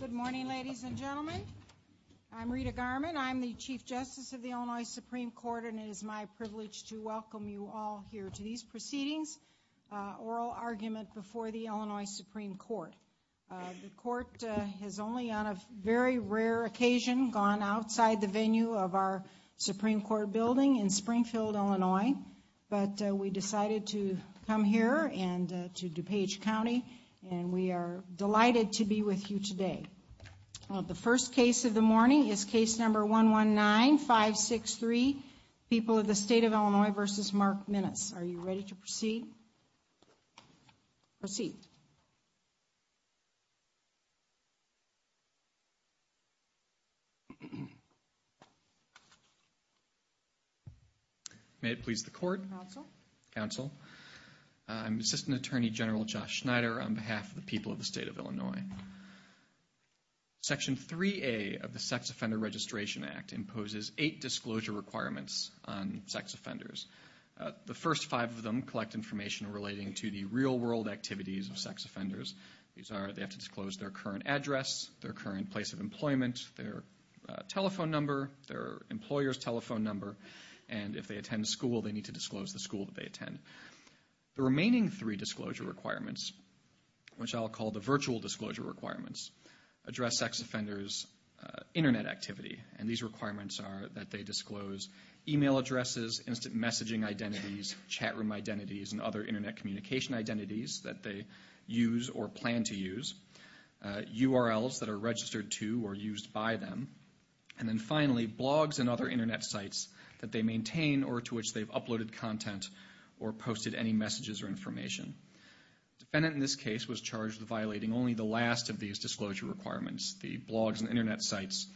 Good morning, ladies and gentlemen. I'm Rita Garman. I'm the Chief Justice of the Illinois Supreme Court and it is my privilege to welcome you all here to these proceedings, Oral Argument before the Illinois Supreme Court. The court has only on a very rare occasion gone outside the venue of our Supreme Court building in Springfield, Illinois, but we decided to come here and to DuPage today. The first case of the morning is case number 119-563, People of the State of Illinois v. Mark Minnis. Are you ready to proceed? Proceed. May it please the court. Counsel. Counsel. I'm Assistant Attorney General Josh Snyder on behalf of the people of the state of Illinois. Section 3A of the Sex Offender Registration Act imposes eight disclosure requirements on sex offenders. The first five of them collect information relating to the real-world activities of sex offenders. These are they have to disclose their current address, their current place of employment, their telephone number, their employer's telephone number, and if they attend school they need to disclose the which I'll call the virtual disclosure requirements. Address sex offenders' internet activity, and these requirements are that they disclose email addresses, instant messaging identities, chat room identities, and other internet communication identities that they use or plan to use, URLs that are registered to or used by them, and then finally blogs and other internet sites that they maintain or to which they've uploaded content or posted any messages or in this case was charged with violating only the last of these disclosure requirements, the blogs and internet sites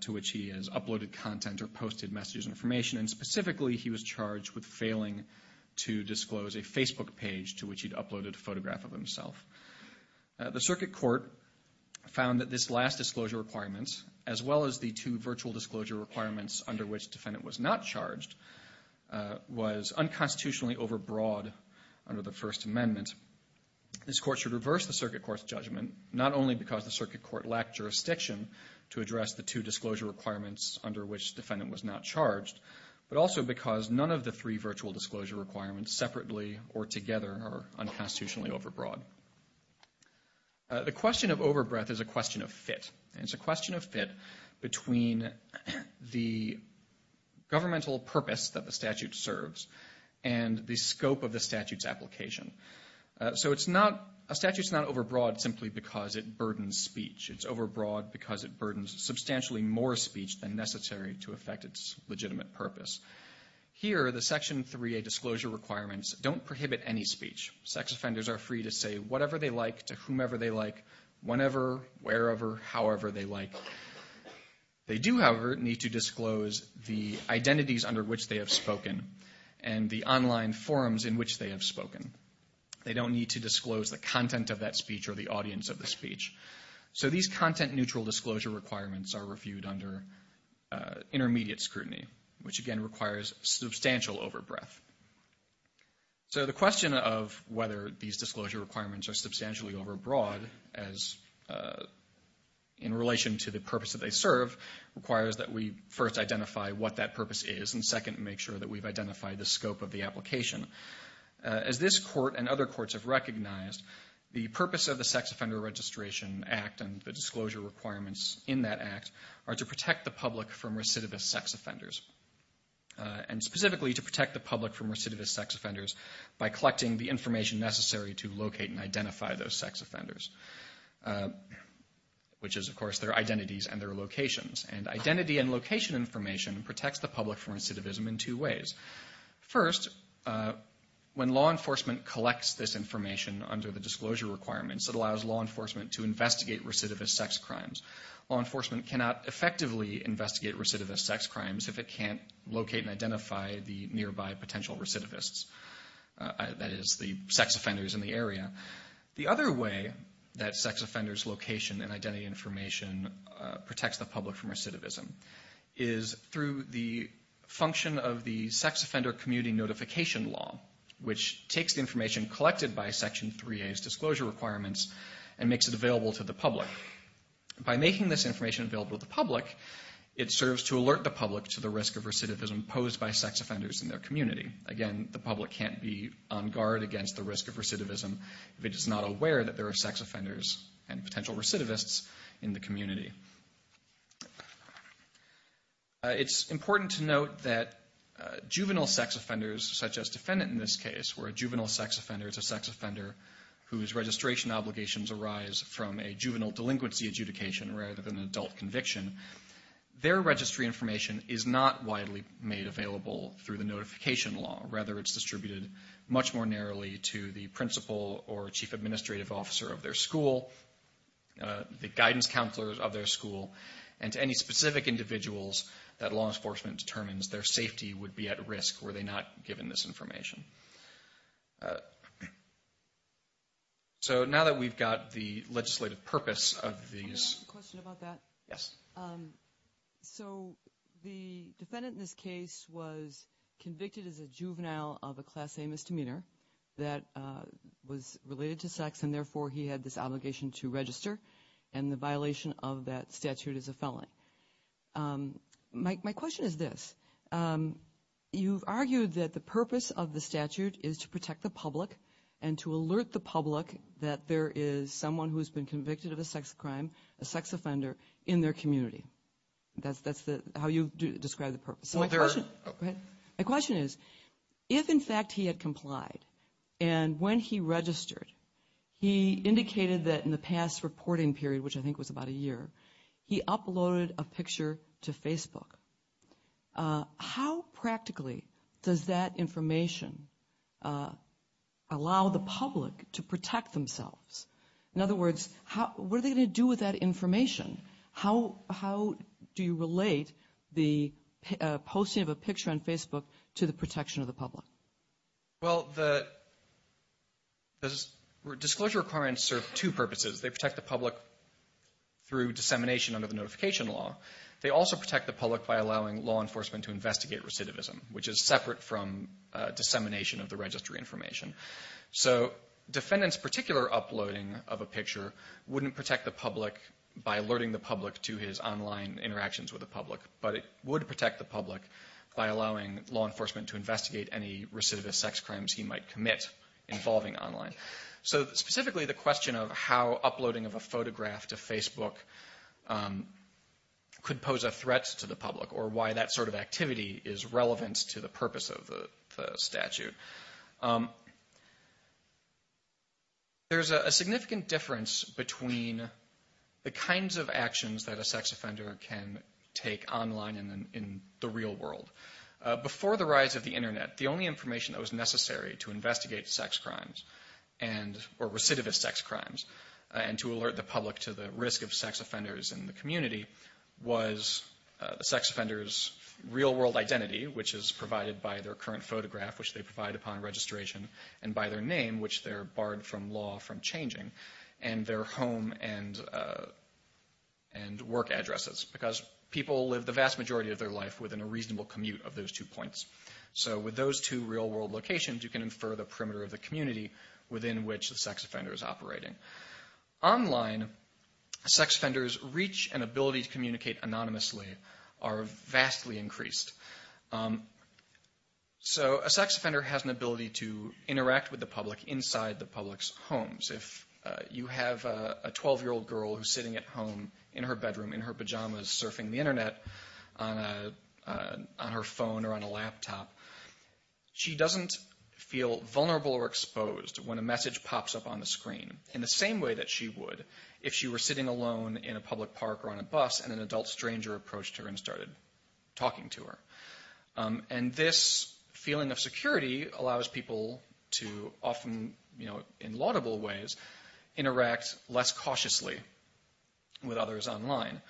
to which he has uploaded content or posted messages and information, and specifically he was charged with failing to disclose a Facebook page to which he'd uploaded a photograph of himself. The circuit court found that this last disclosure requirements, as well as the two virtual disclosure requirements under which defendant was not charged, was unconstitutionally overbroad under the First Amendment. This court should reverse the circuit court's judgment, not only because the circuit court lacked jurisdiction to address the two disclosure requirements under which defendant was not charged, but also because none of the three virtual disclosure requirements separately or together are unconstitutionally overbroad. The question of overbreadth is a question of fit. It's a question of fit between the governmental purpose that the statute serves and the scope of the statute's application. So it's not, a statute's not overbroad simply because it burdens speech. It's overbroad because it burdens substantially more speech than necessary to affect its legitimate purpose. Here, the Section 3a disclosure requirements don't prohibit any speech. Sex offenders are free to say they do, however, need to disclose the identities under which they have spoken and the online forums in which they have spoken. They don't need to disclose the content of that speech or the audience of the speech. So these content-neutral disclosure requirements are reviewed under intermediate scrutiny, which again requires substantial overbreadth. So the question of whether these disclosure requirements are substantially overbroad as, in relation to the purpose that they serve, requires that we first identify what that purpose is and second, make sure that we've identified the scope of the application. As this court and other courts have recognized, the purpose of the Sex Offender Registration Act and the disclosure requirements in that act are to protect the public from recidivist sex offenders and specifically to protect the public from recidivist sex offenders by collecting the information necessary to locate and identify those locations. And identity and location information protects the public from recidivism in two ways. First, when law enforcement collects this information under the disclosure requirements, it allows law enforcement to investigate recidivist sex crimes. Law enforcement cannot effectively investigate recidivist sex crimes if it can't locate and identify the nearby potential recidivists, that is, the sex offenders in the area. The other way that sex offenders' location and identity information protects the public from recidivism is through the function of the Sex Offender Community Notification Law, which takes the information collected by Section 3A's disclosure requirements and makes it available to the public. By making this information available to the public, it serves to alert the public to the risk of recidivism posed by sex offenders in their community. Again, the public can't be on guard against the risk of recidivism if it is not aware that there are sex offenders and potential recidivists in the community. It's important to note that juvenile sex offenders, such as defendant in this case, where a juvenile sex offender is a sex offender whose registration obligations arise from a juvenile delinquency adjudication rather than an adult conviction, their registry information is not widely made available through the Notification Law. Rather, it's distributed much more narrowly to the principal or chief administrative officer of their school, the guidance counselors of their school, and to any specific individuals that law enforcement determines their safety would be at risk were they not given this information. So now that we've got the legislative purpose of these... Can I ask a question about that? Yes. So the defendant in this case was convicted as a juvenile of a Class A misdemeanor that was related to sex and therefore he had this obligation to register and the violation of that statute is a felony. My question is this. You've argued that the purpose of the statute is to protect the public and to alert the public that there is someone who's been convicted of a sex crime, a sex offender, in their community. That's how you describe the purpose. My question is, if in fact he had complied and when he registered, he indicated that in the past reporting period, which I think was about a year, he uploaded a picture to Facebook, how practically does that information allow the public to protect themselves? In other words, what are they going to do with that information? How do you relate the posting of a picture? Disclosure requirements serve two purposes. They protect the public through dissemination under the Notification Law. They also protect the public by allowing law enforcement to investigate recidivism, which is separate from dissemination of the registry information. So defendant's particular uploading of a picture wouldn't protect the public by alerting the public to his online interactions with the public, but it would protect the public by allowing law enforcement to investigate any recidivist sex crimes he might commit involving online. So specifically the question of how uploading of a photograph to Facebook could pose a threat to the public or why that sort of activity is relevant to the purpose of the statute. There's a significant difference between the kinds of actions that a sex offender can take online and in the real world. Before the rise of the Internet, the only information that was allowed to investigate recidivist sex crimes and to alert the public to the risk of sex offenders in the community was the sex offender's real-world identity, which is provided by their current photograph, which they provide upon registration, and by their name, which they're barred from law from changing, and their home and work addresses, because people live the vast majority of their life within a reasonable commute of those two points. So with those two real-world locations, you can infer the perimeter of the community within which the sex offender is operating. Online, sex offenders' reach and ability to communicate anonymously are vastly increased. So a sex offender has an ability to interact with the public inside the public's homes. If you have a 12-year-old girl who's sitting at home in her bedroom in her pajamas surfing the Internet on her phone or on her laptop, she doesn't feel vulnerable or exposed when a message pops up on the screen in the same way that she would if she were sitting alone in a public park or on a bus and an adult stranger approached her and started talking to her. And this feeling of security allows people to often, you know, in laudable ways, interact less cautiously with others online.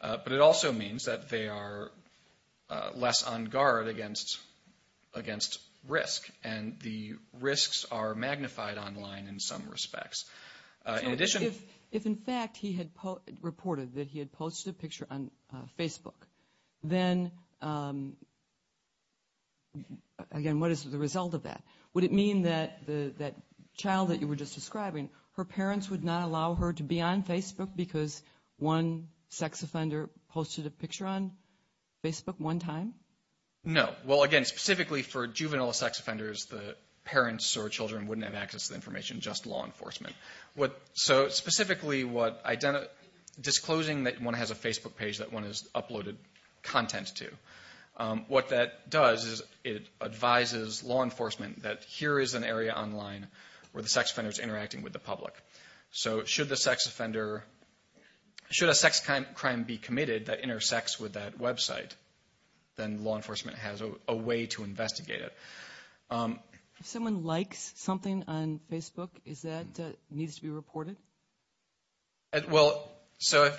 But it also means that they are less on guard against risk. And the risks are magnified online in some respects. In addition... So if, in fact, he had reported that he had posted a picture on Facebook, then again, what is the result of that? Would it mean that that child that you were just describing, her parents would not allow her to be on Facebook because one sex offender posted a picture on Facebook one time? No. Well, again, specifically for juvenile sex offenders, the parents or children wouldn't have access to the information, just law enforcement. So, specifically, disclosing that one has a Facebook page that one has uploaded content to, what that does is it advises law enforcement that here is an area online where the sex offender is interacting with the public. So should the sex offender, should a child have sex with that website, then law enforcement has a way to investigate it. If someone likes something on Facebook, is that, needs to be reported? Well, so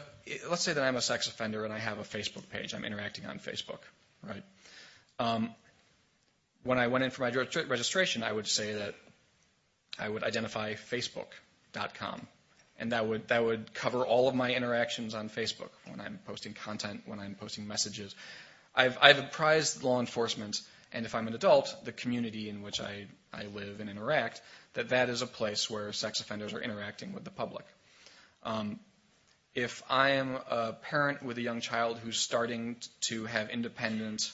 let's say that I'm a sex offender and I have a Facebook page, I'm interacting on Facebook, right? When I went in for my registration, I would say that I would identify Facebook.com. And that would cover all of my interactions on Facebook, when I'm posting content, when I'm posting messages. I've apprised law enforcement, and if I'm an adult, the community in which I live and interact, that that is a place where sex offenders are interacting with the public. If I am a parent with a young child who's starting to have independent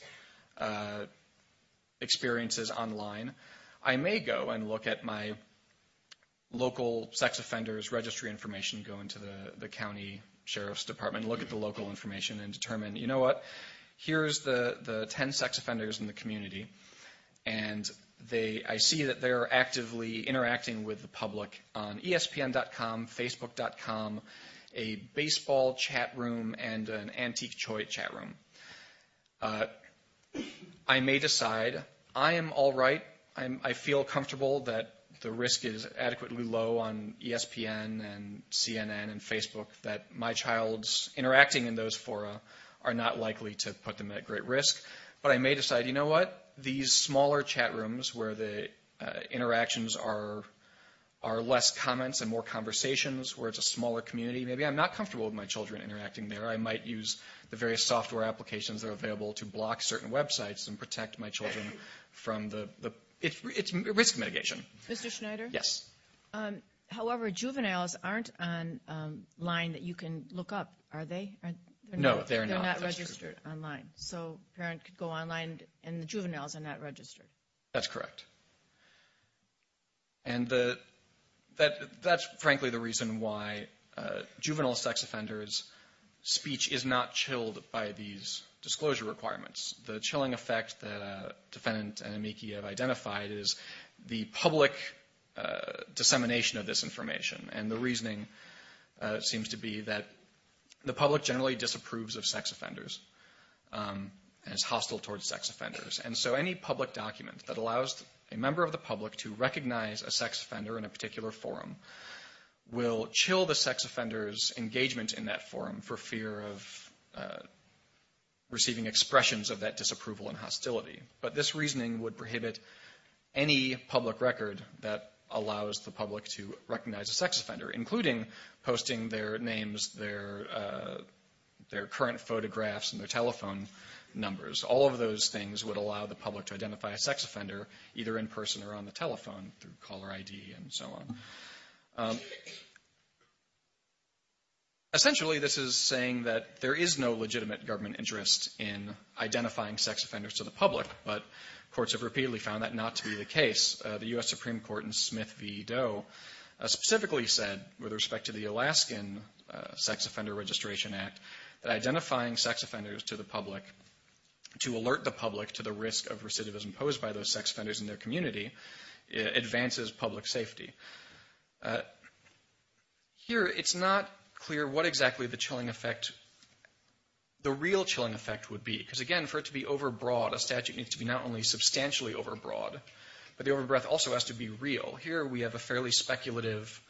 experiences online, I may go and look at my local sex offenders registry information, go into the county sheriff's department, look at the local information, and determine, you know what, here's the 10 sex offenders in the community, and I see that they're actively interacting with the public on ESPN.com, Facebook.com, a baseball chat room, and an antique toy chat room. I may decide, I am all right, I feel comfortable that the risk is adequately low on ESPN, and CNN, and Facebook, that my child's interacting in those fora are not likely to put them at great risk. But I may decide, you know what, these smaller chat rooms where the interactions are less comments and more conversations, where it's a smaller community, maybe I'm not comfortable with my children interacting there. I might use the various software applications that are available to block certain websites and protect my risk mitigation. Mr. Schneider? Yes. However, juveniles aren't online that you can look up, are they? No, they're not. They're not registered online, so a parent could go online and the juveniles are not registered. That's correct, and that's frankly the reason why juvenile sex offenders' speech is not chilled by these disclosure requirements. The chilling effect that a defendant and a MIECHE have identified is the public dissemination of this information, and the reasoning seems to be that the public generally disapproves of sex offenders and is hostile towards sex offenders. And so any public document that allows a member of the public to recognize a sex offender in a particular forum will chill the sex offender's receiving expressions of that disapproval and hostility. But this reasoning would prohibit any public record that allows the public to recognize a sex offender, including posting their names, their current photographs, and their telephone numbers. All of those things would allow the public to identify a sex offender either in person or on the telephone through caller ID and so on. Essentially, this is saying that there is no legitimate government interest in identifying sex offenders to the public, but courts have repeatedly found that not to be the case. The U.S. Supreme Court in Smith v. Doe specifically said, with respect to the Alaskan Sex Offender Registration Act, that identifying sex offenders to the public, to alert the public to the risk of recidivism posed by those sex offenders in their community, advances public safety. Here, it's not clear what exactly the chilling effect, the real chilling effect would be. Because again, for it to be overbroad, a statute needs to be not only substantially overbroad, but the overbreath also has to be real. Here, we have a fairly speculative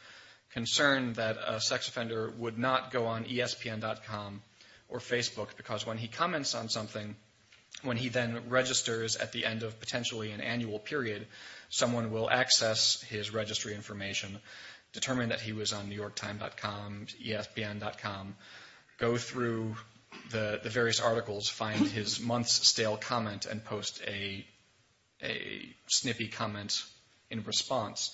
concern that a sex offender would not go on ESPN.com or Facebook because when he comments on something, when he then registers at the end of potentially an annual period, someone will access his registry information, determine that he was on ESPN, go through the various articles, find his month's stale comment, and post a snippy comment in response.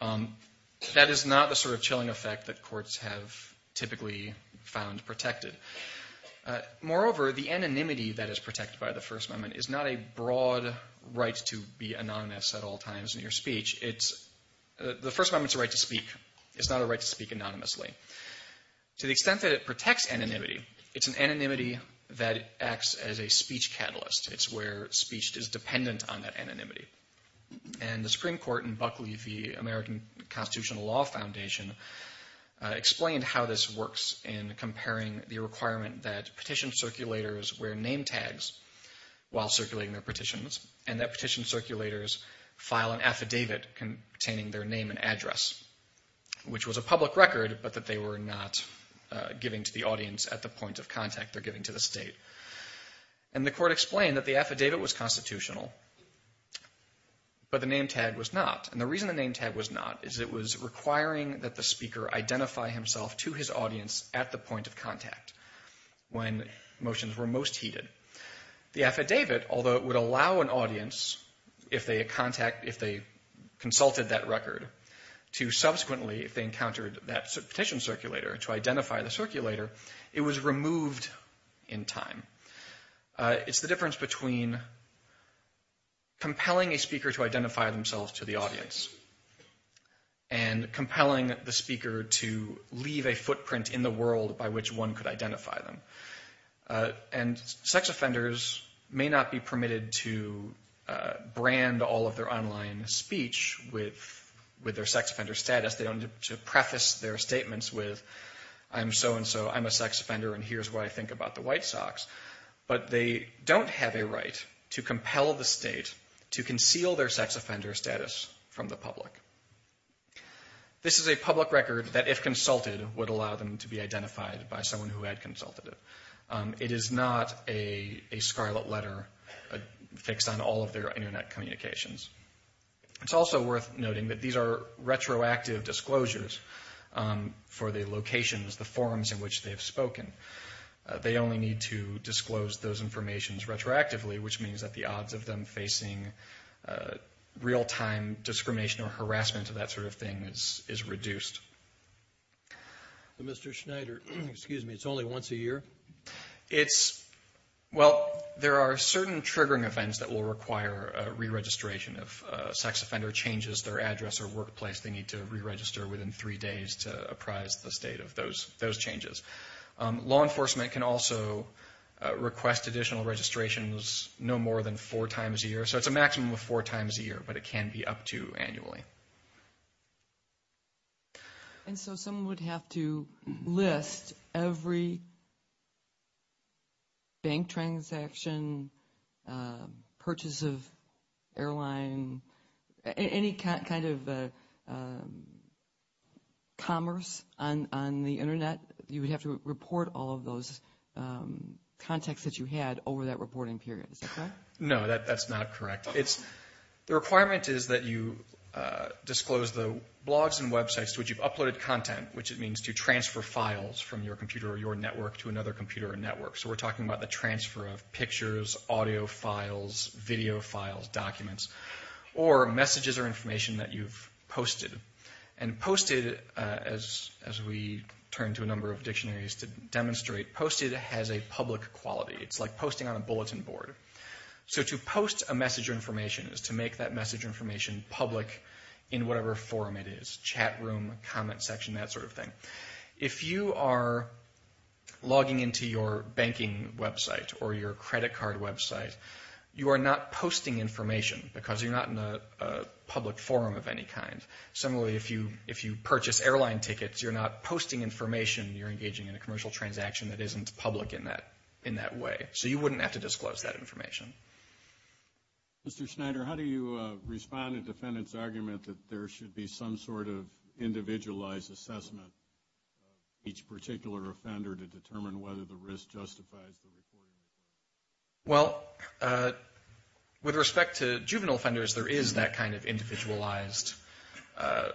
That is not the sort of chilling effect that courts have typically found protected. Moreover, the anonymity that is protected by the First Amendment is not a broad right to be anonymous at all times in your speech. The First Amendment's a right to speak. It's not a right to speak that lacks anonymity. It's an anonymity that acts as a speech catalyst. It's where speech is dependent on that anonymity. The Supreme Court and Buckley v. American Constitutional Law Foundation explained how this works in comparing the requirement that petition circulators wear name tags while circulating their petitions and that petition circulators file an affidavit containing their name and address, which was a public record but that they were not giving to the audience at the point of contact they're giving to the state. And the court explained that the affidavit was constitutional, but the name tag was not. And the reason the name tag was not is it was requiring that the speaker identify himself to his audience at the point of contact when motions were most heeded. The affidavit, although it would allow an audience, if they consulted that record, to subsequently, if they encountered that petition circulator, to identify the circulator, it was removed in time. It's the difference between compelling a speaker to identify themselves to the audience and compelling the speaker to leave a footprint in the world by which one could identify them. And sex offenders may not be permitted to brand all of their online speech with their sex offender status. They don't need to with, I'm so-and-so, I'm a sex offender, and here's what I think about the white socks. But they don't have a right to compel the state to conceal their sex offender status from the public. This is a public record that, if consulted, would allow them to be identified by someone who had consulted it. It is not a scarlet letter fixed on all of their internet communications. It's also worth noting that these are retroactive disclosures for the locations, the forums in which they have spoken. They only need to disclose those informations retroactively, which means that the odds of them facing real-time discrimination or harassment or that sort of thing is reduced. Mr. Schneider, excuse me, it's only once a year? It's, well, there are certain triggering events that will require a sex offender changes their address or workplace. They need to re-register within three days to apprise the state of those changes. Law enforcement can also request additional registrations no more than four times a year, so it's a maximum of four times a year, but it can be up to annually. And so someone would have to list every bank transaction, purchase of airline, any kind of commerce on the internet. You would have to report all of those contacts that you had over that reporting period, is that correct? No, that's not correct. The requirement is that you disclose the blogs and websites to which you've uploaded content, which it means to transfer files from your computer or your network to another computer or network. So we're talking about the transfer of pictures, audio files, video files, documents, or messages or information that you've posted. And posted, as we turn to a number of dictionaries to demonstrate, posted has a public quality. It's like posting on a website. So to post a message or information is to make that message information public in whatever forum it is, chat room, comment section, that sort of thing. If you are logging into your banking website or your credit card website, you are not posting information because you're not in a public forum of any kind. Similarly, if you purchase airline tickets, you're not posting information, you're engaging in a commercial transaction that isn't public in that way. So you wouldn't have to disclose that information. Mr. Schneider, how do you respond to the defendant's argument that there should be some sort of individualized assessment of each particular offender to determine whether the risk justifies the reporting period? Well, with respect to juvenile offenders, there is that kind of individualized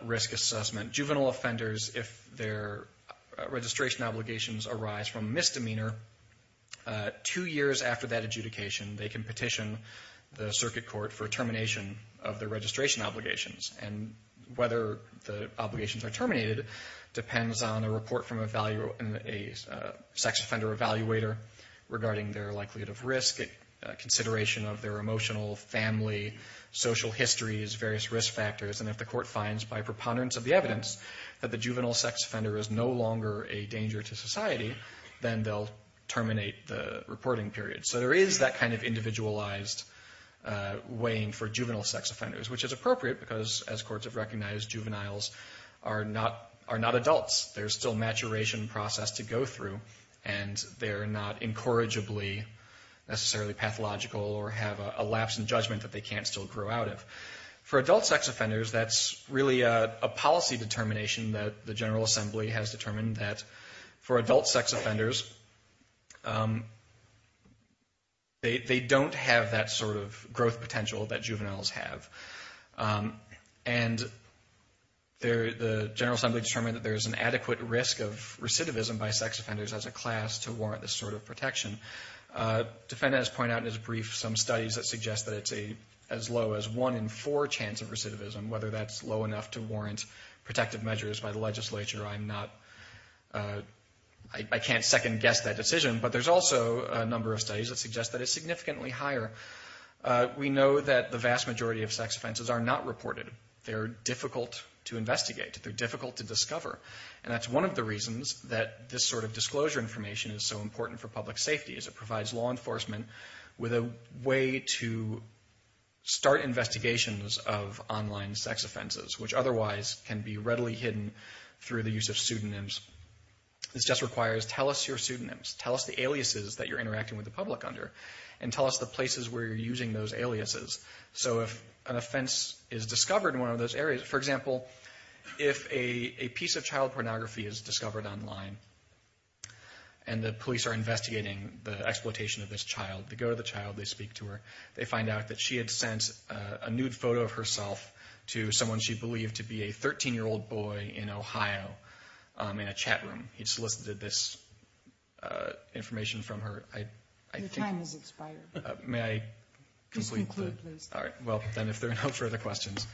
risk assessment. Juvenile offenders, if their registration obligations arise from misdemeanor, two years after that adjudication, they can petition the circuit court for termination of their registration obligations. And whether the obligations are terminated depends on a report from a sex offender evaluator regarding their likelihood of risk, consideration of their emotional, family, social histories, various risk factors. And if the court finds, by preponderance of the evidence, that the juvenile sex offender is no longer a juvenile, then they'll terminate the reporting period. So there is that kind of individualized weighing for juvenile sex offenders, which is appropriate because, as courts have recognized, juveniles are not adults. There's still maturation process to go through, and they're not incorrigibly necessarily pathological or have a lapse in judgment that they can't still grow out of. For adult sex offenders, that's really a policy determination that the General Assembly has determined that for adult sex offenders, they don't have that sort of growth potential that juveniles have. And the General Assembly determined that there's an adequate risk of recidivism by sex offenders as a class to warrant this sort of protection. Defendants point out in his brief some studies that suggest that it's as low as one in four chance of recidivism, whether that's low to warrant protective measures by the legislature. I can't second-guess that decision, but there's also a number of studies that suggest that it's significantly higher. We know that the vast majority of sex offenses are not reported. They're difficult to investigate. They're difficult to discover. And that's one of the reasons that this sort of disclosure information is so important for public safety, is it provides law enforcement with a way to start investigations of online sex offenses, which otherwise can be readily hidden through the use of pseudonyms. This just requires, tell us your pseudonyms, tell us the aliases that you're interacting with the public under, and tell us the places where you're using those aliases. So if an offense is discovered in one of those areas, for example, if a piece of child pornography is discovered online and the police are investigating the exploitation of this child, they go to the child, they speak to her, they find out that she had sent a nude photo of herself to someone she believed to be a 13-year-old boy in Ohio in a chat room. He'd solicited this information from her. Your time has expired. May I conclude? Just conclude, please. All right, well, then if there are no further questions,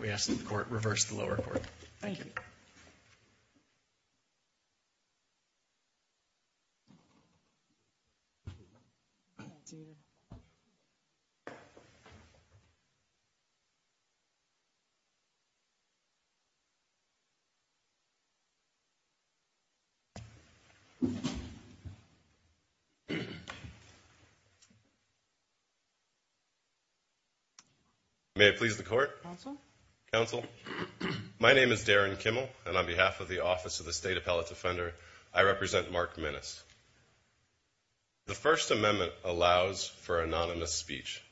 we ask that the court reverse the lower court. Thank you. May I please the court? Counsel? My name is Darren Kimmel, and on behalf of the Office of the State Appellate Defender, I represent Mark Minnis. The First Amendment allows for anonymous speech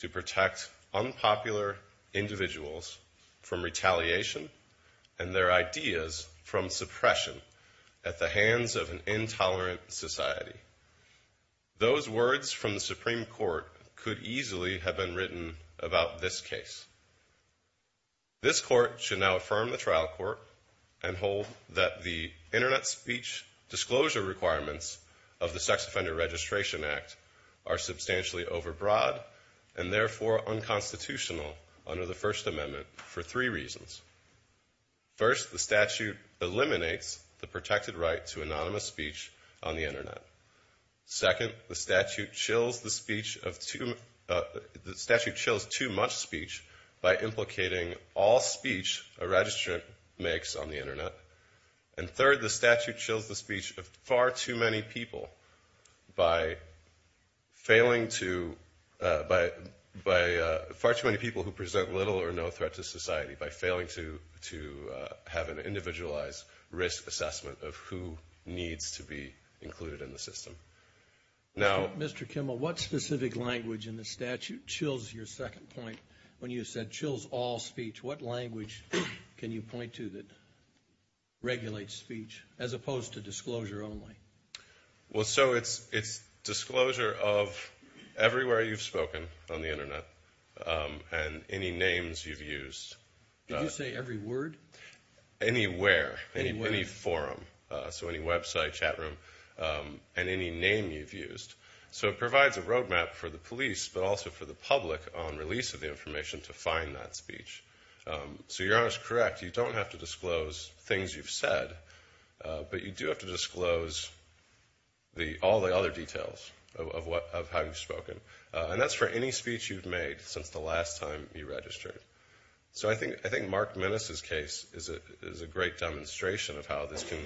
to protect unpopular individuals from retaliation and their ideas from suppression at the hands of an intolerant society. Those words from the Supreme Court could easily have been written about this case. This court should now affirm the trial court and hold that the Internet speech disclosure requirements of the Sex Offender Registration Act are substantially overbroad and therefore unconstitutional under the First Amendment for three reasons. First, the statute eliminates the protected right to anonymous speech on the Internet. Second, the statute chills the speech of two, the statute chills too much speech by implicating all speech a registrant makes on the Internet. And third, the statute chills the speech of far too many people by failing to, by far too many people who present little or no threat to society, by failing to have an individualized risk assessment of who needs to be included in the system. Now, Mr. Kimmel, what specific language in the statute chills your second point when you said chills all speech? What language can you point to that regulates speech as opposed to disclosure only? Well, so it's, it's disclosure of everywhere you've spoken on the Internet and any names you've used. Did you say every word? Anywhere, any forum, so any website, chat room, and any name you've used. So it provides a roadmap for the police but also for the public on release of the information to find that speech. So you're correct, you don't have to disclose things you've said, but you do have to disclose the, all the other details of what, of how you've spoken. And that's for any speech you've made since the last time you registered. So I think, I think Mark Minnis' case is a, is a great demonstration of how this can,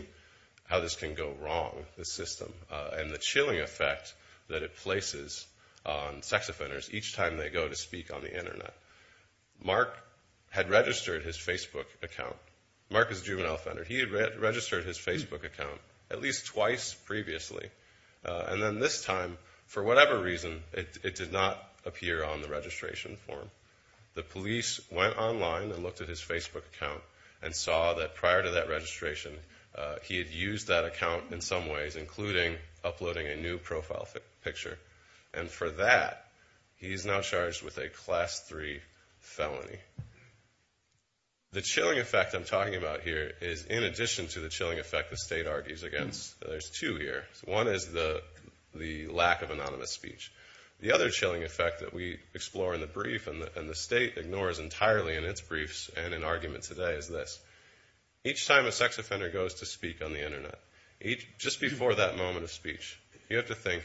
how this can go wrong, this system, and the chilling effect that it places on sex on the Internet. Mark had registered his Facebook account. Mark is a juvenile offender. He had registered his Facebook account at least twice previously, and then this time, for whatever reason, it did not appear on the registration form. The police went online and looked at his Facebook account and saw that prior to that registration, he had used that account in some ways, including uploading a new profile picture. And for that, he's now charged with a Class 3 felony. The chilling effect I'm talking about here is, in addition to the chilling effect the state argues against, there's two here. One is the, the lack of anonymous speech. The other chilling effect that we explore in the brief, and the, and the state ignores entirely in its briefs and in argument today, is this. Each time a sex offender goes to speak on the Internet, each, just before that moment of speech, you have to think,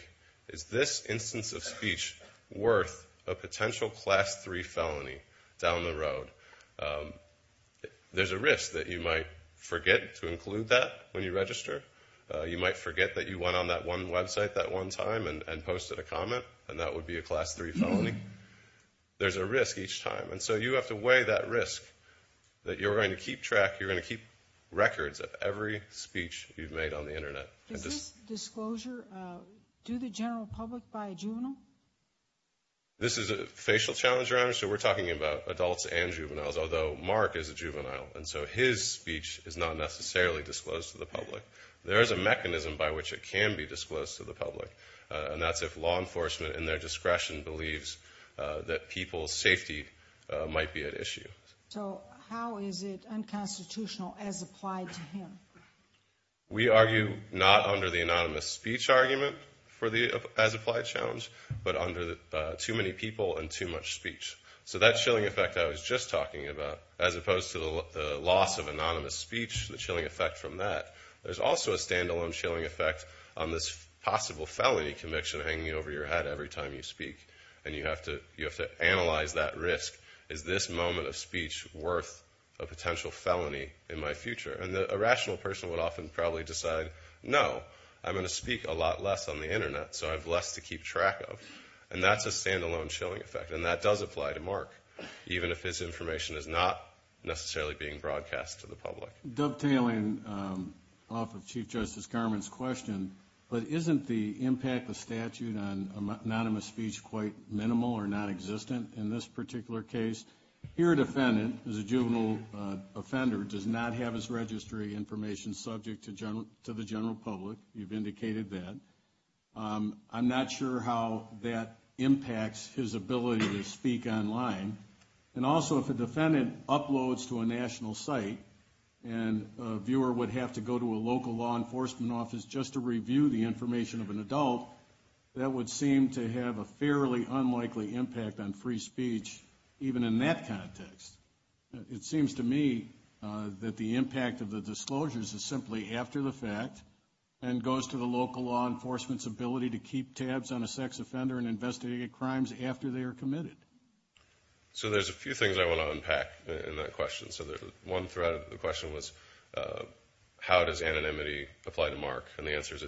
is this instance of speech worth a potential Class 3 felony down the road? There's a risk that you might forget to include that when you register. You might forget that you went on that one website that one time and posted a comment, and that would be a Class 3 felony. There's a risk each time, and so you have to weigh that risk, that you're going to keep track, you're going to keep records of every speech you've made on the Internet. Is this disclosure to the general public by a juvenile? This is a facial challenge round, so we're talking about adults and juveniles, although Mark is a juvenile, and so his speech is not necessarily disclosed to the public. There is a mechanism by which it can be disclosed to the public, and that's if law enforcement in their discretion believes that people's safety might be at risk. So that chilling effect I was just talking about, as opposed to the loss of anonymous speech, the chilling effect from that, there's also a standalone chilling effect on this possible felony conviction hanging over your head every time you speak, and you have to analyze that risk. Is this moment of speech worth a potential felony in my future? And a rational person would often probably decide, no, I'm going to speak a lot less on the Internet, so I have less to keep track of, and that's a standalone chilling effect, and that does apply to Mark, even if his information is not necessarily being broadcast to the public. Dovetailing off of Chief Justice Garment's question, but isn't the impact of statute on anonymous speech quite minimal or non-existent in this particular case? Your defendant, as a juvenile offender, does not have his registry information subject to the general public. You've indicated that. I'm not sure how that impacts his ability to speak online, and also if a defendant uploads to a national site and a viewer would have to go to a local law enforcement office just to review the information of an adult, that would seem to have a fairly unlikely impact on free speech, even in that context. It is simply after the fact, and goes to the local law enforcement's ability to keep tabs on a sex offender and investigate crimes after they are committed. So there's a few things I want to unpack in that question. So one thread of the question was, how does anonymity apply to Mark? And the answer is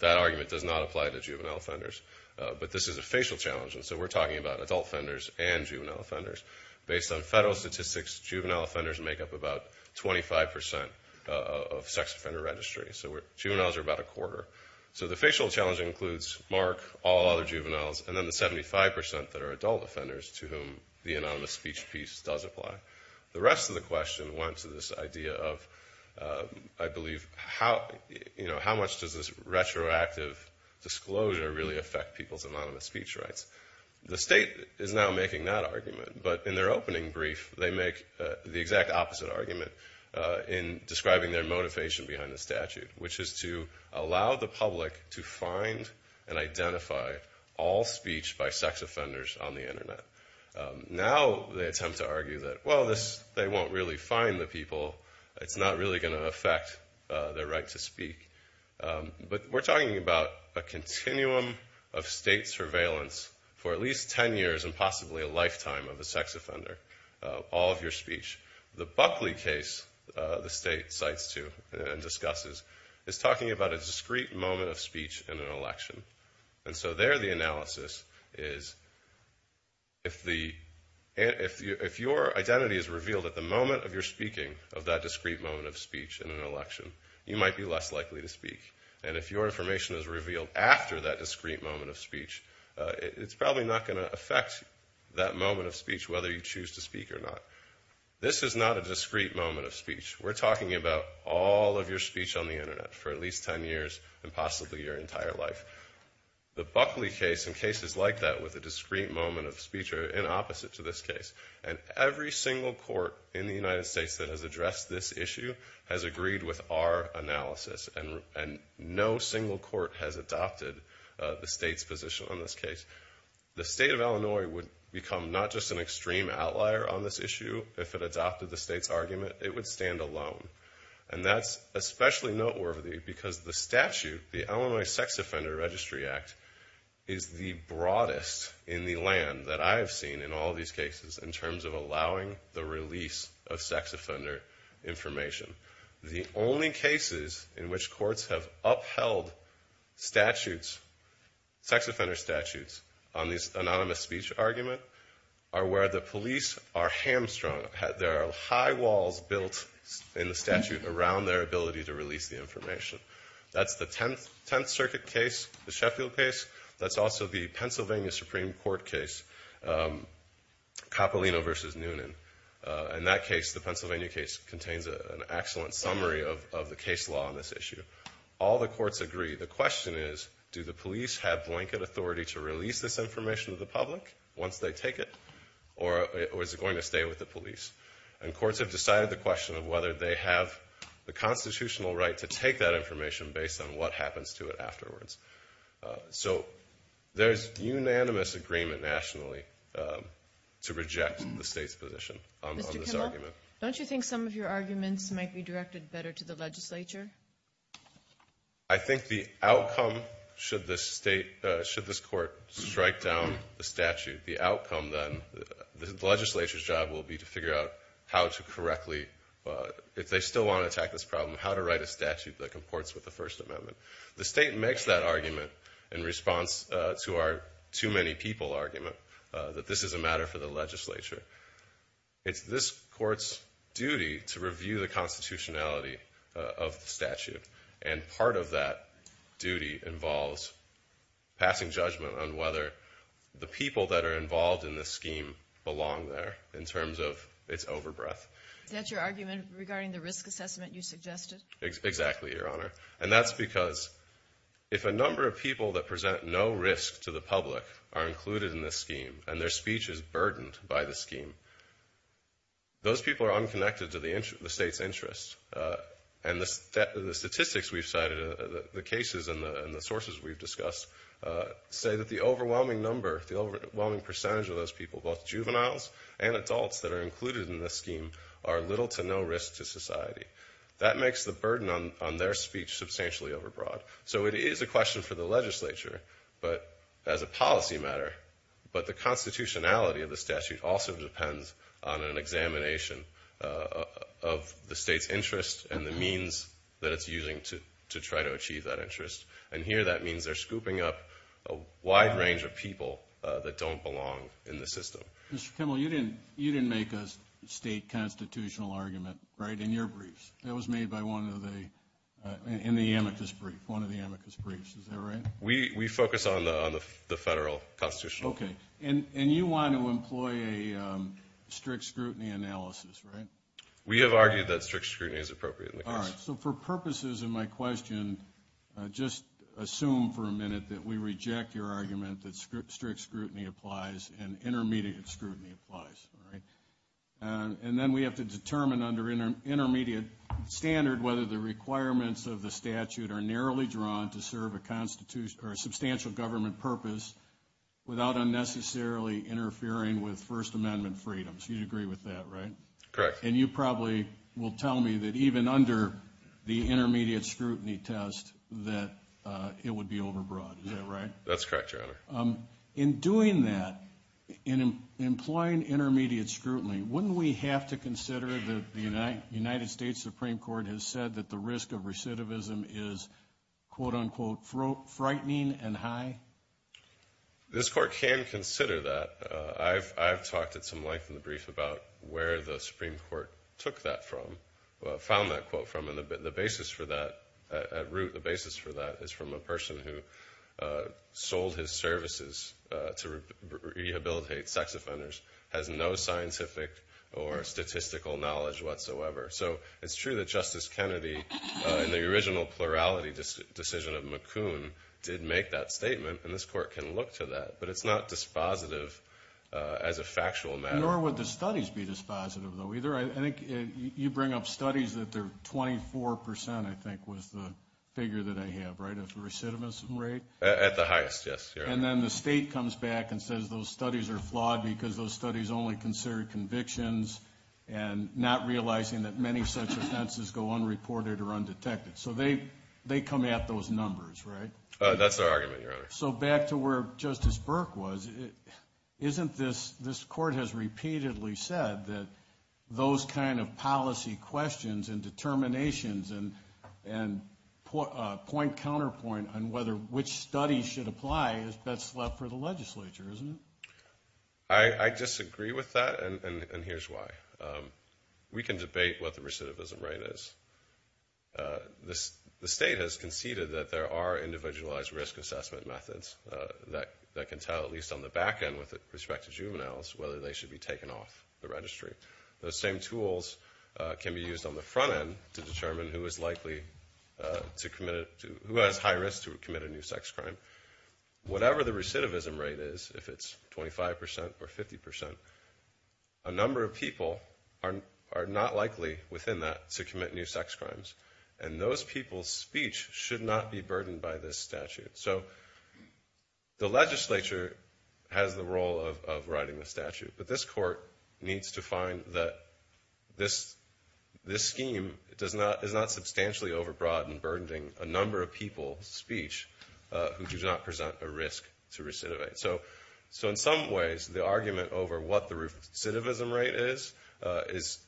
that argument does not apply to juvenile offenders. But this is a facial challenge, and so we're talking about adult offenders and juvenile offenders. Based on federal statistics, juvenile offenders make up about 25% of sex offender registry. So juveniles are about a quarter. So the facial challenge includes Mark, all other juveniles, and then the 75% that are adult offenders to whom the anonymous speech piece does apply. The rest of the question went to this idea of, I believe, how much does this retroactive disclosure really affect people's anonymous speech rights? The state is now making that argument. But in their opening brief, they make the exact opposite argument in describing their motivation behind the statute, which is to allow the public to find and identify all speech by sex offenders on the Internet. Now they attempt to argue that, well, they won't really find the people. It's not really going to affect their right to speak. But we're talking about a continuum of state surveillance for at least 10 years, and possibly a lifetime of a sex offender, all of your speech. The Buckley case, the state cites to and discusses, is talking about a discrete moment of speech in an election. And so there the analysis is, if your identity is revealed at the moment of your speaking of that discrete moment of speech in an election, you might be less likely to speak. And if your information is revealed after that discrete moment of speech, it's probably not going to affect that moment of speech, whether you choose to speak or not. This is not a discrete moment of speech. We're talking about all of your speech on the Internet for at least 10 years, and possibly your entire life. The Buckley case and cases like that with a discrete moment of speech are in opposite to this case. And every single court in the United States that has addressed this issue has agreed with our analysis, and no single court has adopted the state's position on this case. The state of Illinois would become not just an extreme outlier on this issue, if it adopted the state's argument, it would stand alone. And that's especially noteworthy because the statute, the Illinois Sex Offender Registry Act, is the broadest in the land that I have seen in all these cases in terms of allowing the release of sex offender information. The only cases in which courts have upheld sex offender statutes on this anonymous speech argument are where the police are hamstrung. There are high walls built in the statute around their ability to release the information. That's the 10th Circuit case, the Sheffield case. That's also the Pennsylvania Supreme Court case, Coppolino v. Noonan. In that case, the Pennsylvania case, contains an excellent summary of the case law on this issue. All the courts agree. The question is, do the police have blanket authority to release this information to the public once they take it, or is it going to stay with the police? And courts have decided the question of whether they have the constitutional right to take that information based on what happens to it afterwards. So there's unanimous agreement nationally to reject the state's position on this argument. Don't you think some of your arguments might be directed better to the legislature? I think the outcome, should this state, should this court strike down the statute, the outcome then, the legislature's job will be to figure out how to correctly, if they still want to attack this problem, how to write a statute that comports with the First Amendment. The state makes that argument in response to our too-many-people argument, that this is a matter for the legislature. It's this court's duty to review the constitutionality of the statute, and part of that duty involves passing judgment on whether the people that are involved in this scheme belong there, in terms of its overbreath. Is that your argument regarding the risk assessment you suggested? Exactly, Your number of people that present no risk to the public are included in this scheme, and their speech is burdened by the scheme. Those people are unconnected to the state's interests, and the statistics we've cited, the cases and the sources we've discussed, say that the overwhelming number, the overwhelming percentage of those people, both juveniles and adults that are included in this scheme, are little to no risk to society. That makes the burden on their speech substantially overbroad. So it is a question for the legislature, but as a policy matter, but the constitutionality of the statute also depends on an examination of the state's interest and the means that it's using to try to achieve that interest. And here that means they're scooping up a wide range of people that don't belong in the system. Mr. Kimmel, you didn't make a state constitutional argument, right, in your briefs. That was made by one of the, in the amicus brief, one of the amicus briefs, is that right? We focus on the federal constitution. Okay, and you want to employ a strict scrutiny analysis, right? We have argued that strict scrutiny is appropriate. All right, so for purposes of my question, just assume for a minute that we reject your argument that strict scrutiny applies and intermediate scrutiny applies, all right? And then we have to determine under intermediate standard whether the requirements of the statute are narrowly drawn to serve a constitution or a substantial government purpose without unnecessarily interfering with First Amendment freedoms. You'd agree with that, right? Correct. And you probably will tell me that even under the intermediate scrutiny test that it would be overbroad, is that right? That's correct, Your Honor. In doing that, in employing intermediate scrutiny, wouldn't we have to consider that the United States Supreme Court has said that the risk of recidivism is, quote-unquote, frightening and high? This court can consider that. I've talked at some length in the brief about where the Supreme Court took that from, found that quote from, and the basis for that, at root, the basis for that is from a scientific or statistical knowledge whatsoever. So it's true that Justice Kennedy, in the original plurality decision of McCoon, did make that statement, and this court can look to that, but it's not dispositive as a factual matter. Nor would the studies be dispositive, though, either. I think you bring up studies that they're 24%, I think, was the figure that I have, right, of recidivism rate? At the highest, yes. And then the state comes back and says those studies are flawed because those studies only consider convictions and not realizing that many such offenses go unreported or undetected. So they come at those numbers, right? That's their argument, Your Honor. So back to where Justice Burke was, isn't this, this court has repeatedly said that those kind of policy questions and determinations and point-counterpoint on whether which studies should apply, that's left for the legislature, isn't it? I disagree with that, and here's why. We can debate what the recidivism rate is. The state has conceded that there are individualized risk assessment methods that can tell, at least on the back end, with respect to juveniles, whether they should be taken off the registry. Those same tools can be used on the front end to determine who has high risk to commit a new sex crime. Whatever the recidivism rate is, if it's 25 percent or 50 percent, a number of people are not likely within that to commit new sex crimes, and those people's speech should not be burdened by this statute. So the legislature has the role of writing the statute, but this court needs to find that this, this scheme, it does not, is not substantially overbroad and burdening a number of people's speech who do not present a risk to recidivate. So, so in some ways, the argument over what the recidivism rate is, is,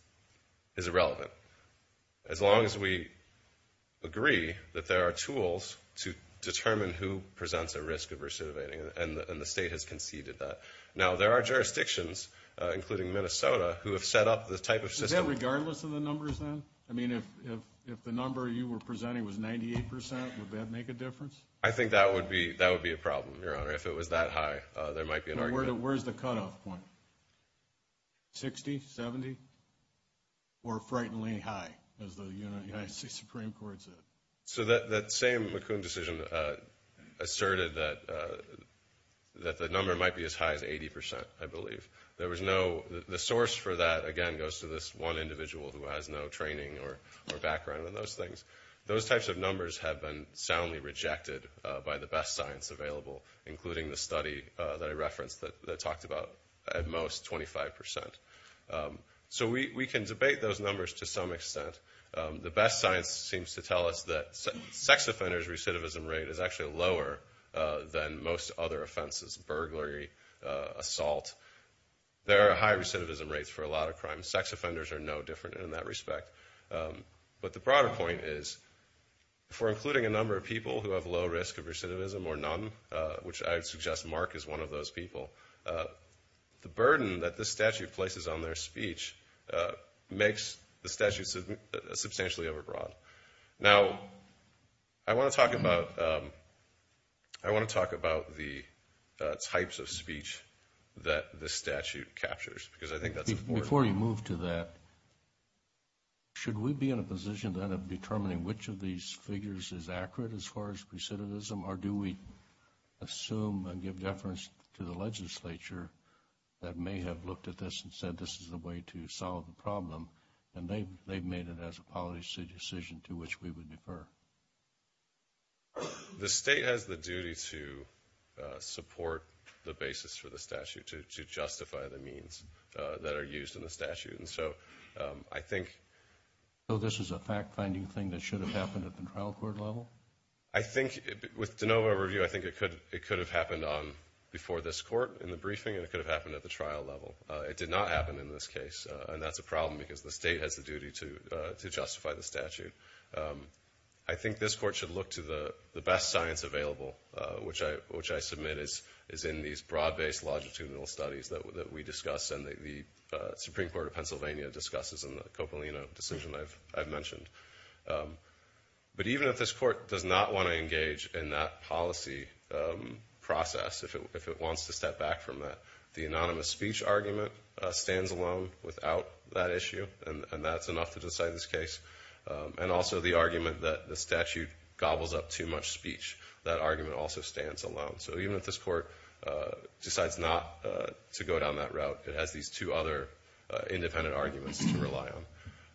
is irrelevant. As long as we agree that there are tools to determine who presents a risk of recidivating, and the state has conceded that. Now, there are jurisdictions, including Minnesota, who have set up this type of system. Is that regardless of the numbers then? I mean, if, if, if the number you were presenting was 98 percent, would that make a difference? I think that would be, that would be a problem, Your Honor. If it was that high, there might be an argument. Where's the cutoff point? 60? 70? Or frighteningly high, as the United States Supreme Court said? So that, that same McComb decision asserted that, that the number might be as high as 80 percent, I believe. There was no, the source for that, again, goes to this one individual who has no training or background in those things. Those types of numbers have been soundly rejected by the best science available, including the study that I referenced that talked about, at most, 25 percent. So we can debate those numbers to some extent. The best science seems to tell us that sex offenders' recidivism rate is actually lower than most other offenses, burglary, assault. There are high recidivism rates for a lot of crimes. Sex offenders are no different in that respect. But the broader point is, for including a number of people who have low risk of recidivism or none, which I would suggest Mark is one of those people, the burden that this statute places on their speech makes the statute substantially overbroad. Now, I want to talk about, I want to talk about the types of speech that this statute captures, because I think that's important. Before you move to that, should we be in a position then of determining which of these figures is accurate as far as recidivism, or do we assume and give deference to the legislature that may have looked at this and said this is the way to solve the problem, and they've made it as a policy decision to which we would defer? The state has the duty to support the basis for the statute, to support the basis in the statute, and so I think... So this is a fact-finding thing that should have happened at the trial court level? I think, with de novo review, I think it could, it could have happened on, before this court in the briefing, and it could have happened at the trial level. It did not happen in this case, and that's a problem because the state has the duty to justify the statute. I think this court should look to the best science available, which I, which I submit is in these broad-based longitudinal studies that we discuss and the Supreme Court of Pennsylvania discusses in the Coppolino decision I've mentioned. But even if this court does not want to engage in that policy process, if it wants to step back from that, the anonymous speech argument stands alone without that issue, and that's enough to decide this case, and also the argument that the statute gobbles up too much speech, that argument also stands alone. So even if this court decides not to go down that route, it has these two other independent arguments to rely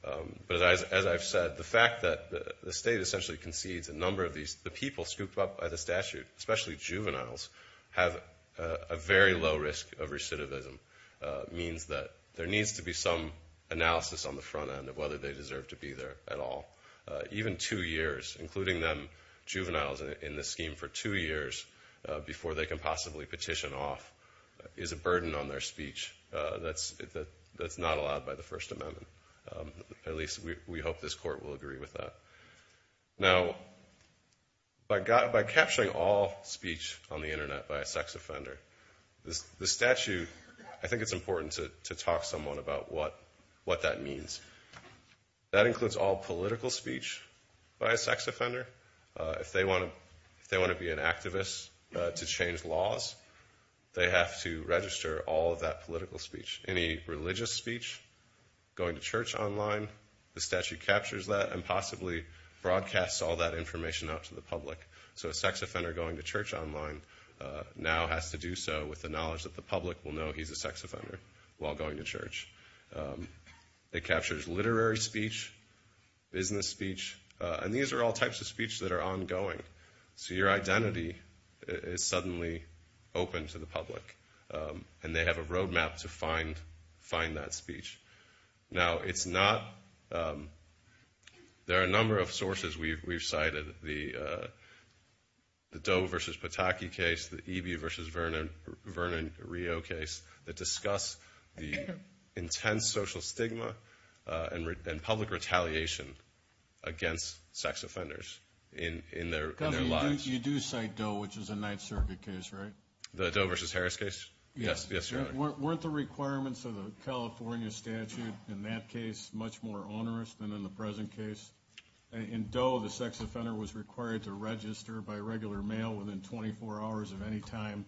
on. But as I've said, the fact that the state essentially concedes a number of these, the people scooped up by the statute, especially juveniles, have a very low risk of recidivism, means that there needs to be some analysis on the front end of whether they deserve to be there at all. Even two years, including them juveniles in the scheme for two years, before they can possibly petition off, is a burden on their speech. That's not allowed by the First Amendment. At least we hope this court will agree with that. Now, by capturing all speech on the internet by a sex offender, the statute, I think it's important to talk someone about what that means. That includes all political speech by a sex offender. If you want an activist to change laws, they have to register all of that political speech. Any religious speech, going to church online, the statute captures that and possibly broadcasts all that information out to the public. So a sex offender going to church online now has to do so with the knowledge that the public will know he's a sex offender while going to church. It captures literary speech, business speech, and these are all types of speech that are ongoing. So your identity is suddenly open to the public and they have a roadmap to find that speech. Now, it's not, there are a number of sources we've cited, the Doe versus Pataki case, the Eby versus Vernon Rio case, that discuss the intense social stigma and public retaliation against sex offenders in their lives. You do cite Doe, which is a Ninth Circuit case, right? The Doe versus Harris case? Yes, Your Honor. Weren't the requirements of the California statute in that case much more onerous than in the present case? In Doe, the sex offender was required to register by regular mail within 24 hours of any time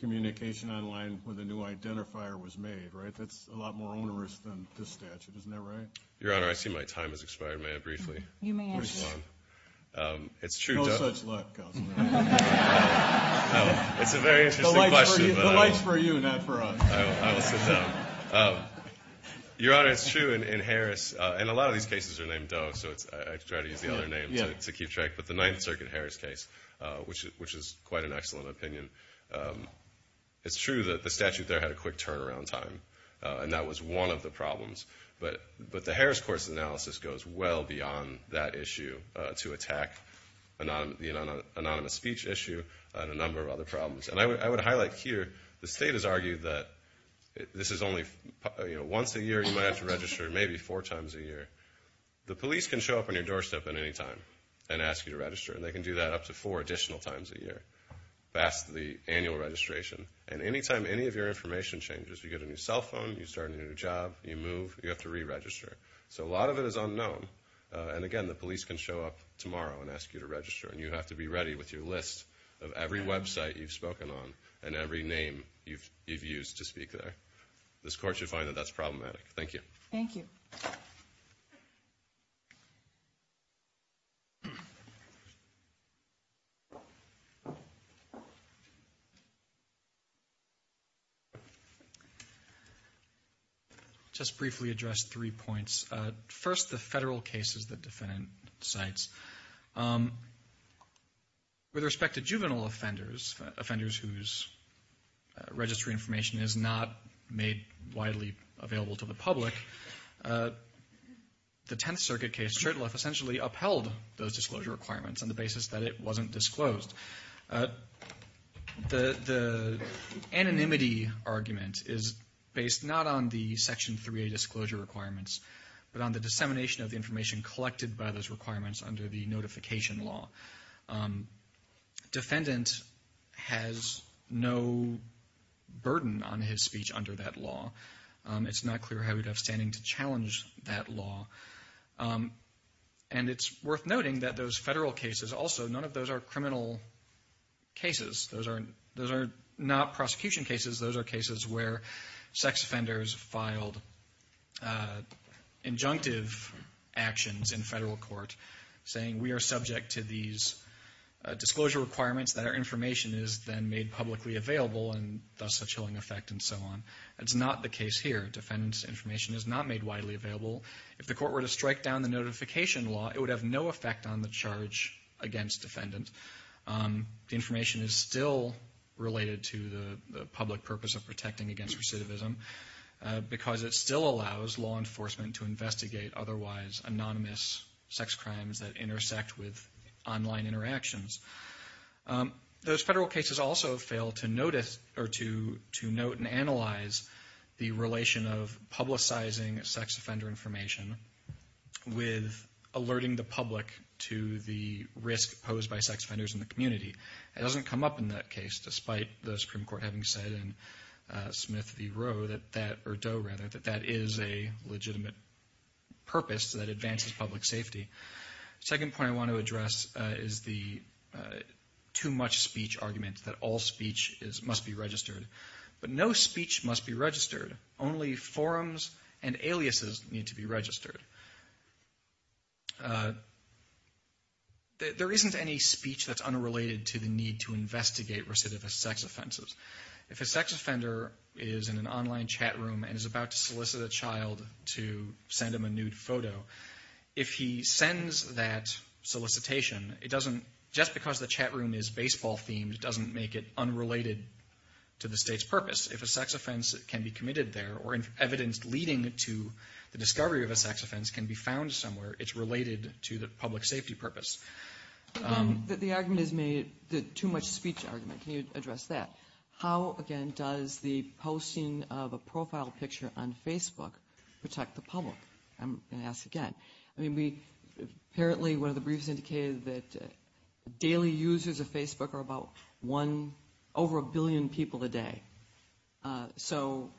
communication online with a new identifier was made, right? That's a lot more onerous than this statute, isn't that right? Your Honor, I see my time has expired. May I briefly respond? No such luck, Counselor. It's a very interesting question. The light's for you, not for us. I will sit down. Your Honor, it's true in Harris, and a lot of these cases are named Doe, so I try to use the other name to keep track, but the Ninth Circuit Harris case, which is quite an excellent opinion, it's true that the statute there had a quick turnaround time, and that was one of the problems, but the Harris court's analysis goes well beyond that issue to attack the anonymous speech issue and a number of other problems. And I would highlight here the state has argued that this is only once a year you might have to register, maybe four times a year. The police can show up on your doorstep at any time and ask you to register, and they can do that up to four additional times a year past the annual registration. And any time any of your information changes, you get a new cell phone, you start a new job, you move, you have to re-register. So a lot of it is unknown, and again, the police can show up tomorrow and ask you to register, and you have to be ready with your list of every website you've spoken on and every name you've used to speak there. This court should find that that's problematic. Thank you. Thank you. Just briefly address three points. First, the federal cases that defendant cites. With respect to juvenile offenders, offenders whose registry information is not made widely available to the public, the Tenth Circuit case, Shurtleff essentially upheld those disclosure requirements on the basis that it wasn't disclosed. The anonymity argument is based not on the Section 3A disclosure requirements, but on the dissemination of the information collected by those requirements under the notification law. Defendant has no burden on his speech under that law. It's not clear how he'd have standing to challenge that law. And it's worth noting that those federal cases also, none of those are criminal cases. Those are not prosecution cases. Those are cases where sex offenders filed injunctive actions in federal court, saying we are subject to these disclosure requirements that our information is then made publicly available and thus a chilling effect and so on. That's not the case here. Defendant's information is not made widely available. If the court were to strike down the notification law, it would have no effect on the charge against defendant. The information is still related to the public purpose of protecting against recidivism because it still allows law enforcement to investigate otherwise anonymous sex crimes that intersect with online interactions. Those federal cases also fail to notice or to note and analyze the relation of publicizing sex offender information with alerting the public to the risk posed by sex offenders in the community. It doesn't come up in that case, despite the Supreme Court having said in Smith v. Roe, or Doe rather, that that is a legitimate purpose that advances public safety. The second point I want to address is the too much speech argument that all speech must be registered. But no speech must be registered. Only forums and aliases need to be registered. There isn't any speech that's unrelated to the need to investigate recidivist sex offenses. If a sex offender is in an online chat room and is about to solicit a child to send him a nude photo, if he sends that solicitation, it doesn't, just because the chat room is baseball-themed, it doesn't make it unrelated to the State's purpose. If a sex offense can be committed there or evidence leading to the discovery of a sex offense can be found somewhere, it's related to the public safety purpose. The argument is made, the too much speech argument. Can you address that? How, again, does the posting of a profile picture on Facebook protect the public? I'm going to ask again. I mean, apparently one of the briefs indicated that daily users of Facebook are about one, over a billion people a day. So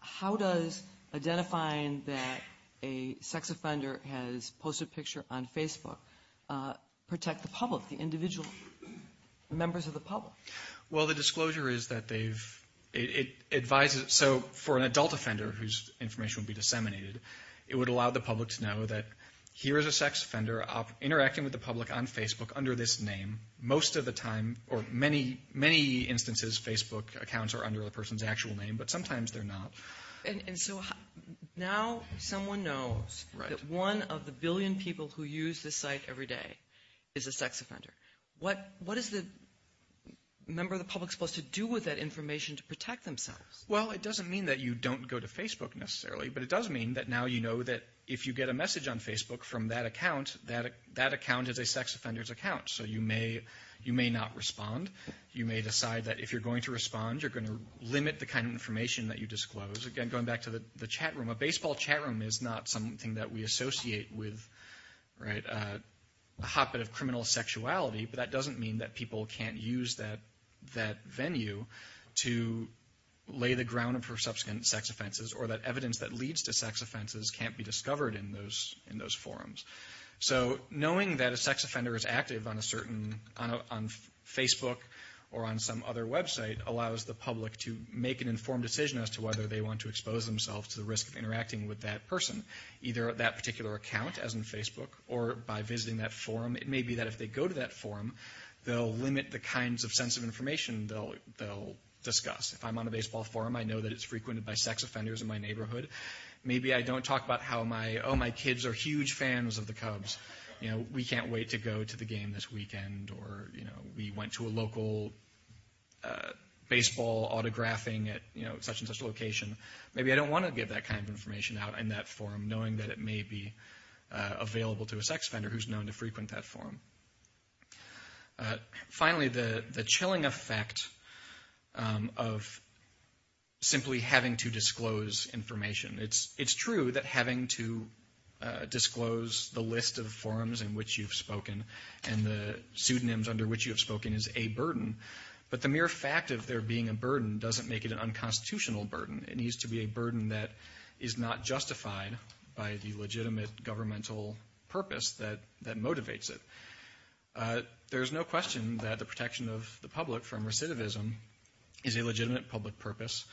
how does identifying that a sex offender has posted a picture on Facebook protect the public, the individual members of the public? Well, the disclosure is that they've advised it. So for an adult offender whose information would be disseminated, it would allow the public to know that here is a sex offender interacting with the public on Facebook under this name most of the time, or many, many instances, Facebook accounts are under the person's actual name, but sometimes they're not. And so now someone knows that one of the billion people who use this site every day is a sex offender. What is the member of the public supposed to do with that information to protect themselves? Well, it doesn't mean that you don't go to Facebook necessarily, but it does mean that now you know that if you get a message on Facebook from that account, that account is a sex offender's account. So you may not respond. You may decide that if you're going to respond, you're going to limit the kind of information that you disclose. Again, going back to the chat room, a baseball chat room is not something that we associate with a hotbed of criminal sexuality, but that doesn't mean that people can't use that venue to lay the ground for subsequent sex offenses or that evidence that leads to sex offenses can't be discovered in those forums. So knowing that a sex offender is active on Facebook or on some other website allows the public to make an informed decision as to whether they want to expose themselves to the risk of interacting with that person, either that particular account, as in Facebook, or by visiting that forum. It may be that if they go to that forum, they'll limit the kinds of sense of information they'll discuss. If I'm on a baseball forum, I know that it's frequented by sex offenders in my neighborhood. Maybe I don't talk about how my kids are huge fans of the Cubs. We can't wait to go to the game this weekend, or we went to a local baseball autographing at such and such a location. Maybe I don't want to give that kind of information out in that forum, knowing that it may be available to a sex offender who's known to frequent that forum. Finally, the chilling effect of simply having to disclose information. It's true that having to disclose the list of forums in which you've spoken and the pseudonyms under which you have spoken is a burden, but the mere fact of there being a burden doesn't make it an unconstitutional burden. It needs to be a burden that is not justified by the legitimate governmental purpose that motivates it. There's no question that the protection of the public from recidivism is a legitimate public purpose.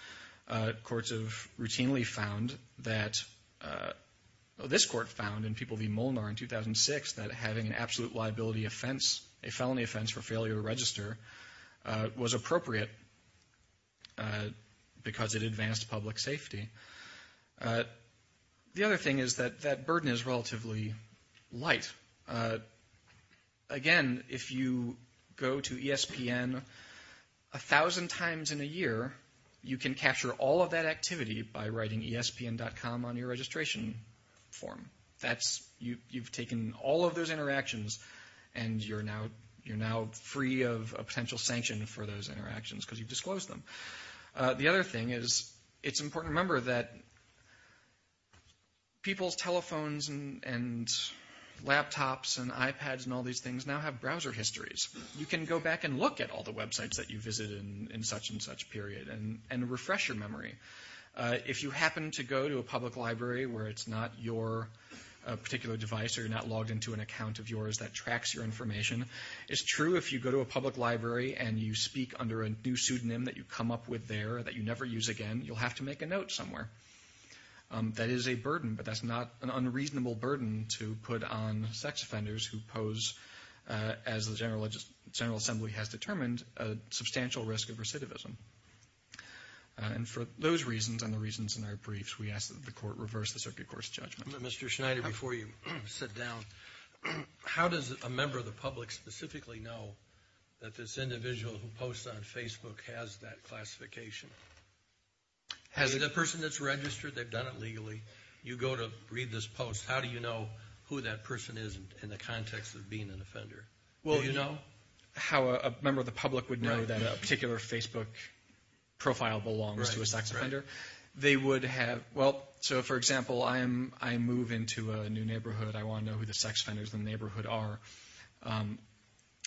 Courts have routinely found that this court found in People v. Molnar in 2006 that having an absolute liability offense, a felony offense for failure to register, was appropriate because it advanced public safety. The other thing is that that burden is relatively light. Again, if you go to ESPN a thousand times in a year, you can capture all of that activity by writing ESPN.com on your registration form. You've taken all of those interactions, and you're now free of a potential sanction for those interactions because you've disclosed them. The other thing is it's important to remember that people's telephones and laptops and iPads and all these things now have browser histories. You can go back and look at all the websites that you visited in such and such period and refresh your memory. If you happen to go to a public library where it's not your particular device or you're not logged into an account of yours that tracks your information, it's true if you go to a public library and you speak under a new pseudonym that you come up with there that you never use again, you'll have to make a note somewhere. That is a burden, but that's not an unreasonable burden to put on sex offenders who pose, as the General Assembly has determined, a substantial risk of recidivism. And for those reasons and the reasons in our briefs, we ask that the court reverse the circuit court's judgment. Mr. Schneider, before you sit down, how does a member of the public specifically know that this individual who posts on Facebook has that classification? Is it a person that's registered, they've done it legally, you go to read this post, how do you know who that person is in the context of being an offender? Well, you know how a member of the public would know that a particular Facebook profile belongs to a sex offender? They would have, well, so for example, I move into a new neighborhood, I want to know who the sex offenders in the neighborhood are,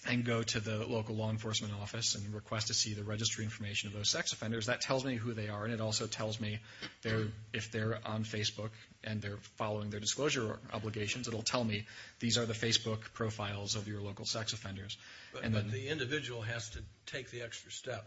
and go to the local law enforcement office and request to see the registry information of those sex offenders. That tells me who they are, and it also tells me if they're on Facebook and they're following their disclosure obligations, it'll tell me, these are the Facebook profiles of your local sex offenders. But the individual has to take the extra step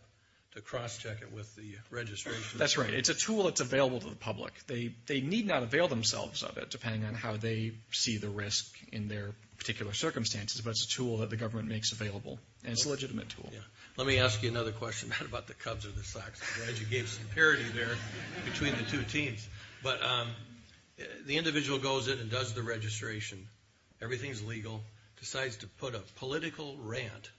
to cross-check it with the registration? That's right. It's a tool that's available to the public. They need not avail themselves of it, depending on how they see the risk in their particular circumstances, but it's a tool that the government makes available, and it's a legitimate tool. Let me ask you another question about the Cubs or the Sox. I'm glad you gave some parity there between the two teams. But the individual goes in and does the registration. Everything's legal, decides to put a political rant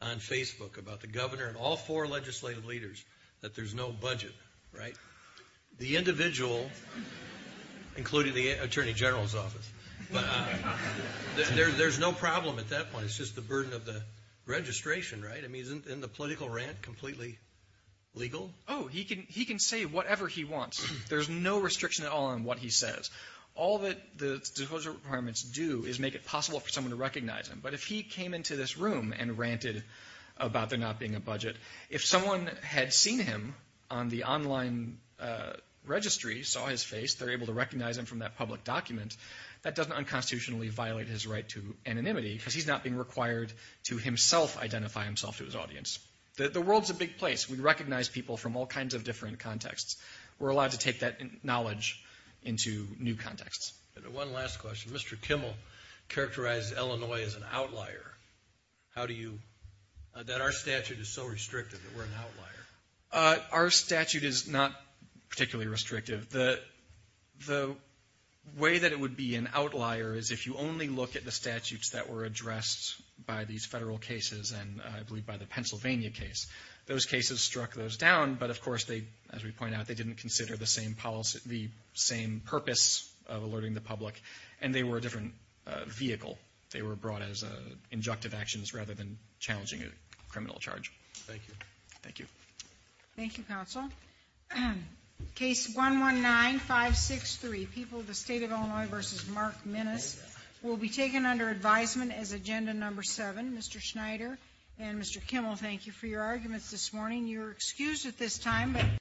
on Facebook about the governor and all four legislative leaders that there's no budget, right? The individual, including the attorney general's office, there's no problem at that point. It's just the burden of the registration, right? I mean, isn't the political rant completely legal? Oh, he can say whatever he wants. There's no restriction at all on what he says. All that the disclosure requirements do is make it possible for someone to recognize him. But if he came into this room and ranted about there not being a budget, if someone had seen him on the online registry, saw his face, they're able to recognize him from that public document, that doesn't unconstitutionally violate his right to anonymity because he's not being required to himself identify himself to his audience. The world's a big place. We recognize people from all kinds of different contexts. We're allowed to take that knowledge into new contexts. One last question. Mr. Kimmel characterized Illinois as an outlier. How do you—that our statute is so restrictive that we're an outlier? Our statute is not particularly restrictive. The way that it would be an outlier is if you only look at the statutes that were addressed by these federal cases and, I believe, by the Pennsylvania case. Those cases struck those down, but, of course, they, as we point out, they didn't consider the same purpose of alerting the public, and they were a different vehicle. They were brought as injunctive actions rather than challenging a criminal charge. Thank you. Thank you. Thank you, counsel. Case 119563, People of the State of Illinois v. Mark Minnis, will be taken under advisement as Agenda No. 7. Mr. Schneider and Mr. Kimmel, thank you for your arguments this morning. You're excused at this time.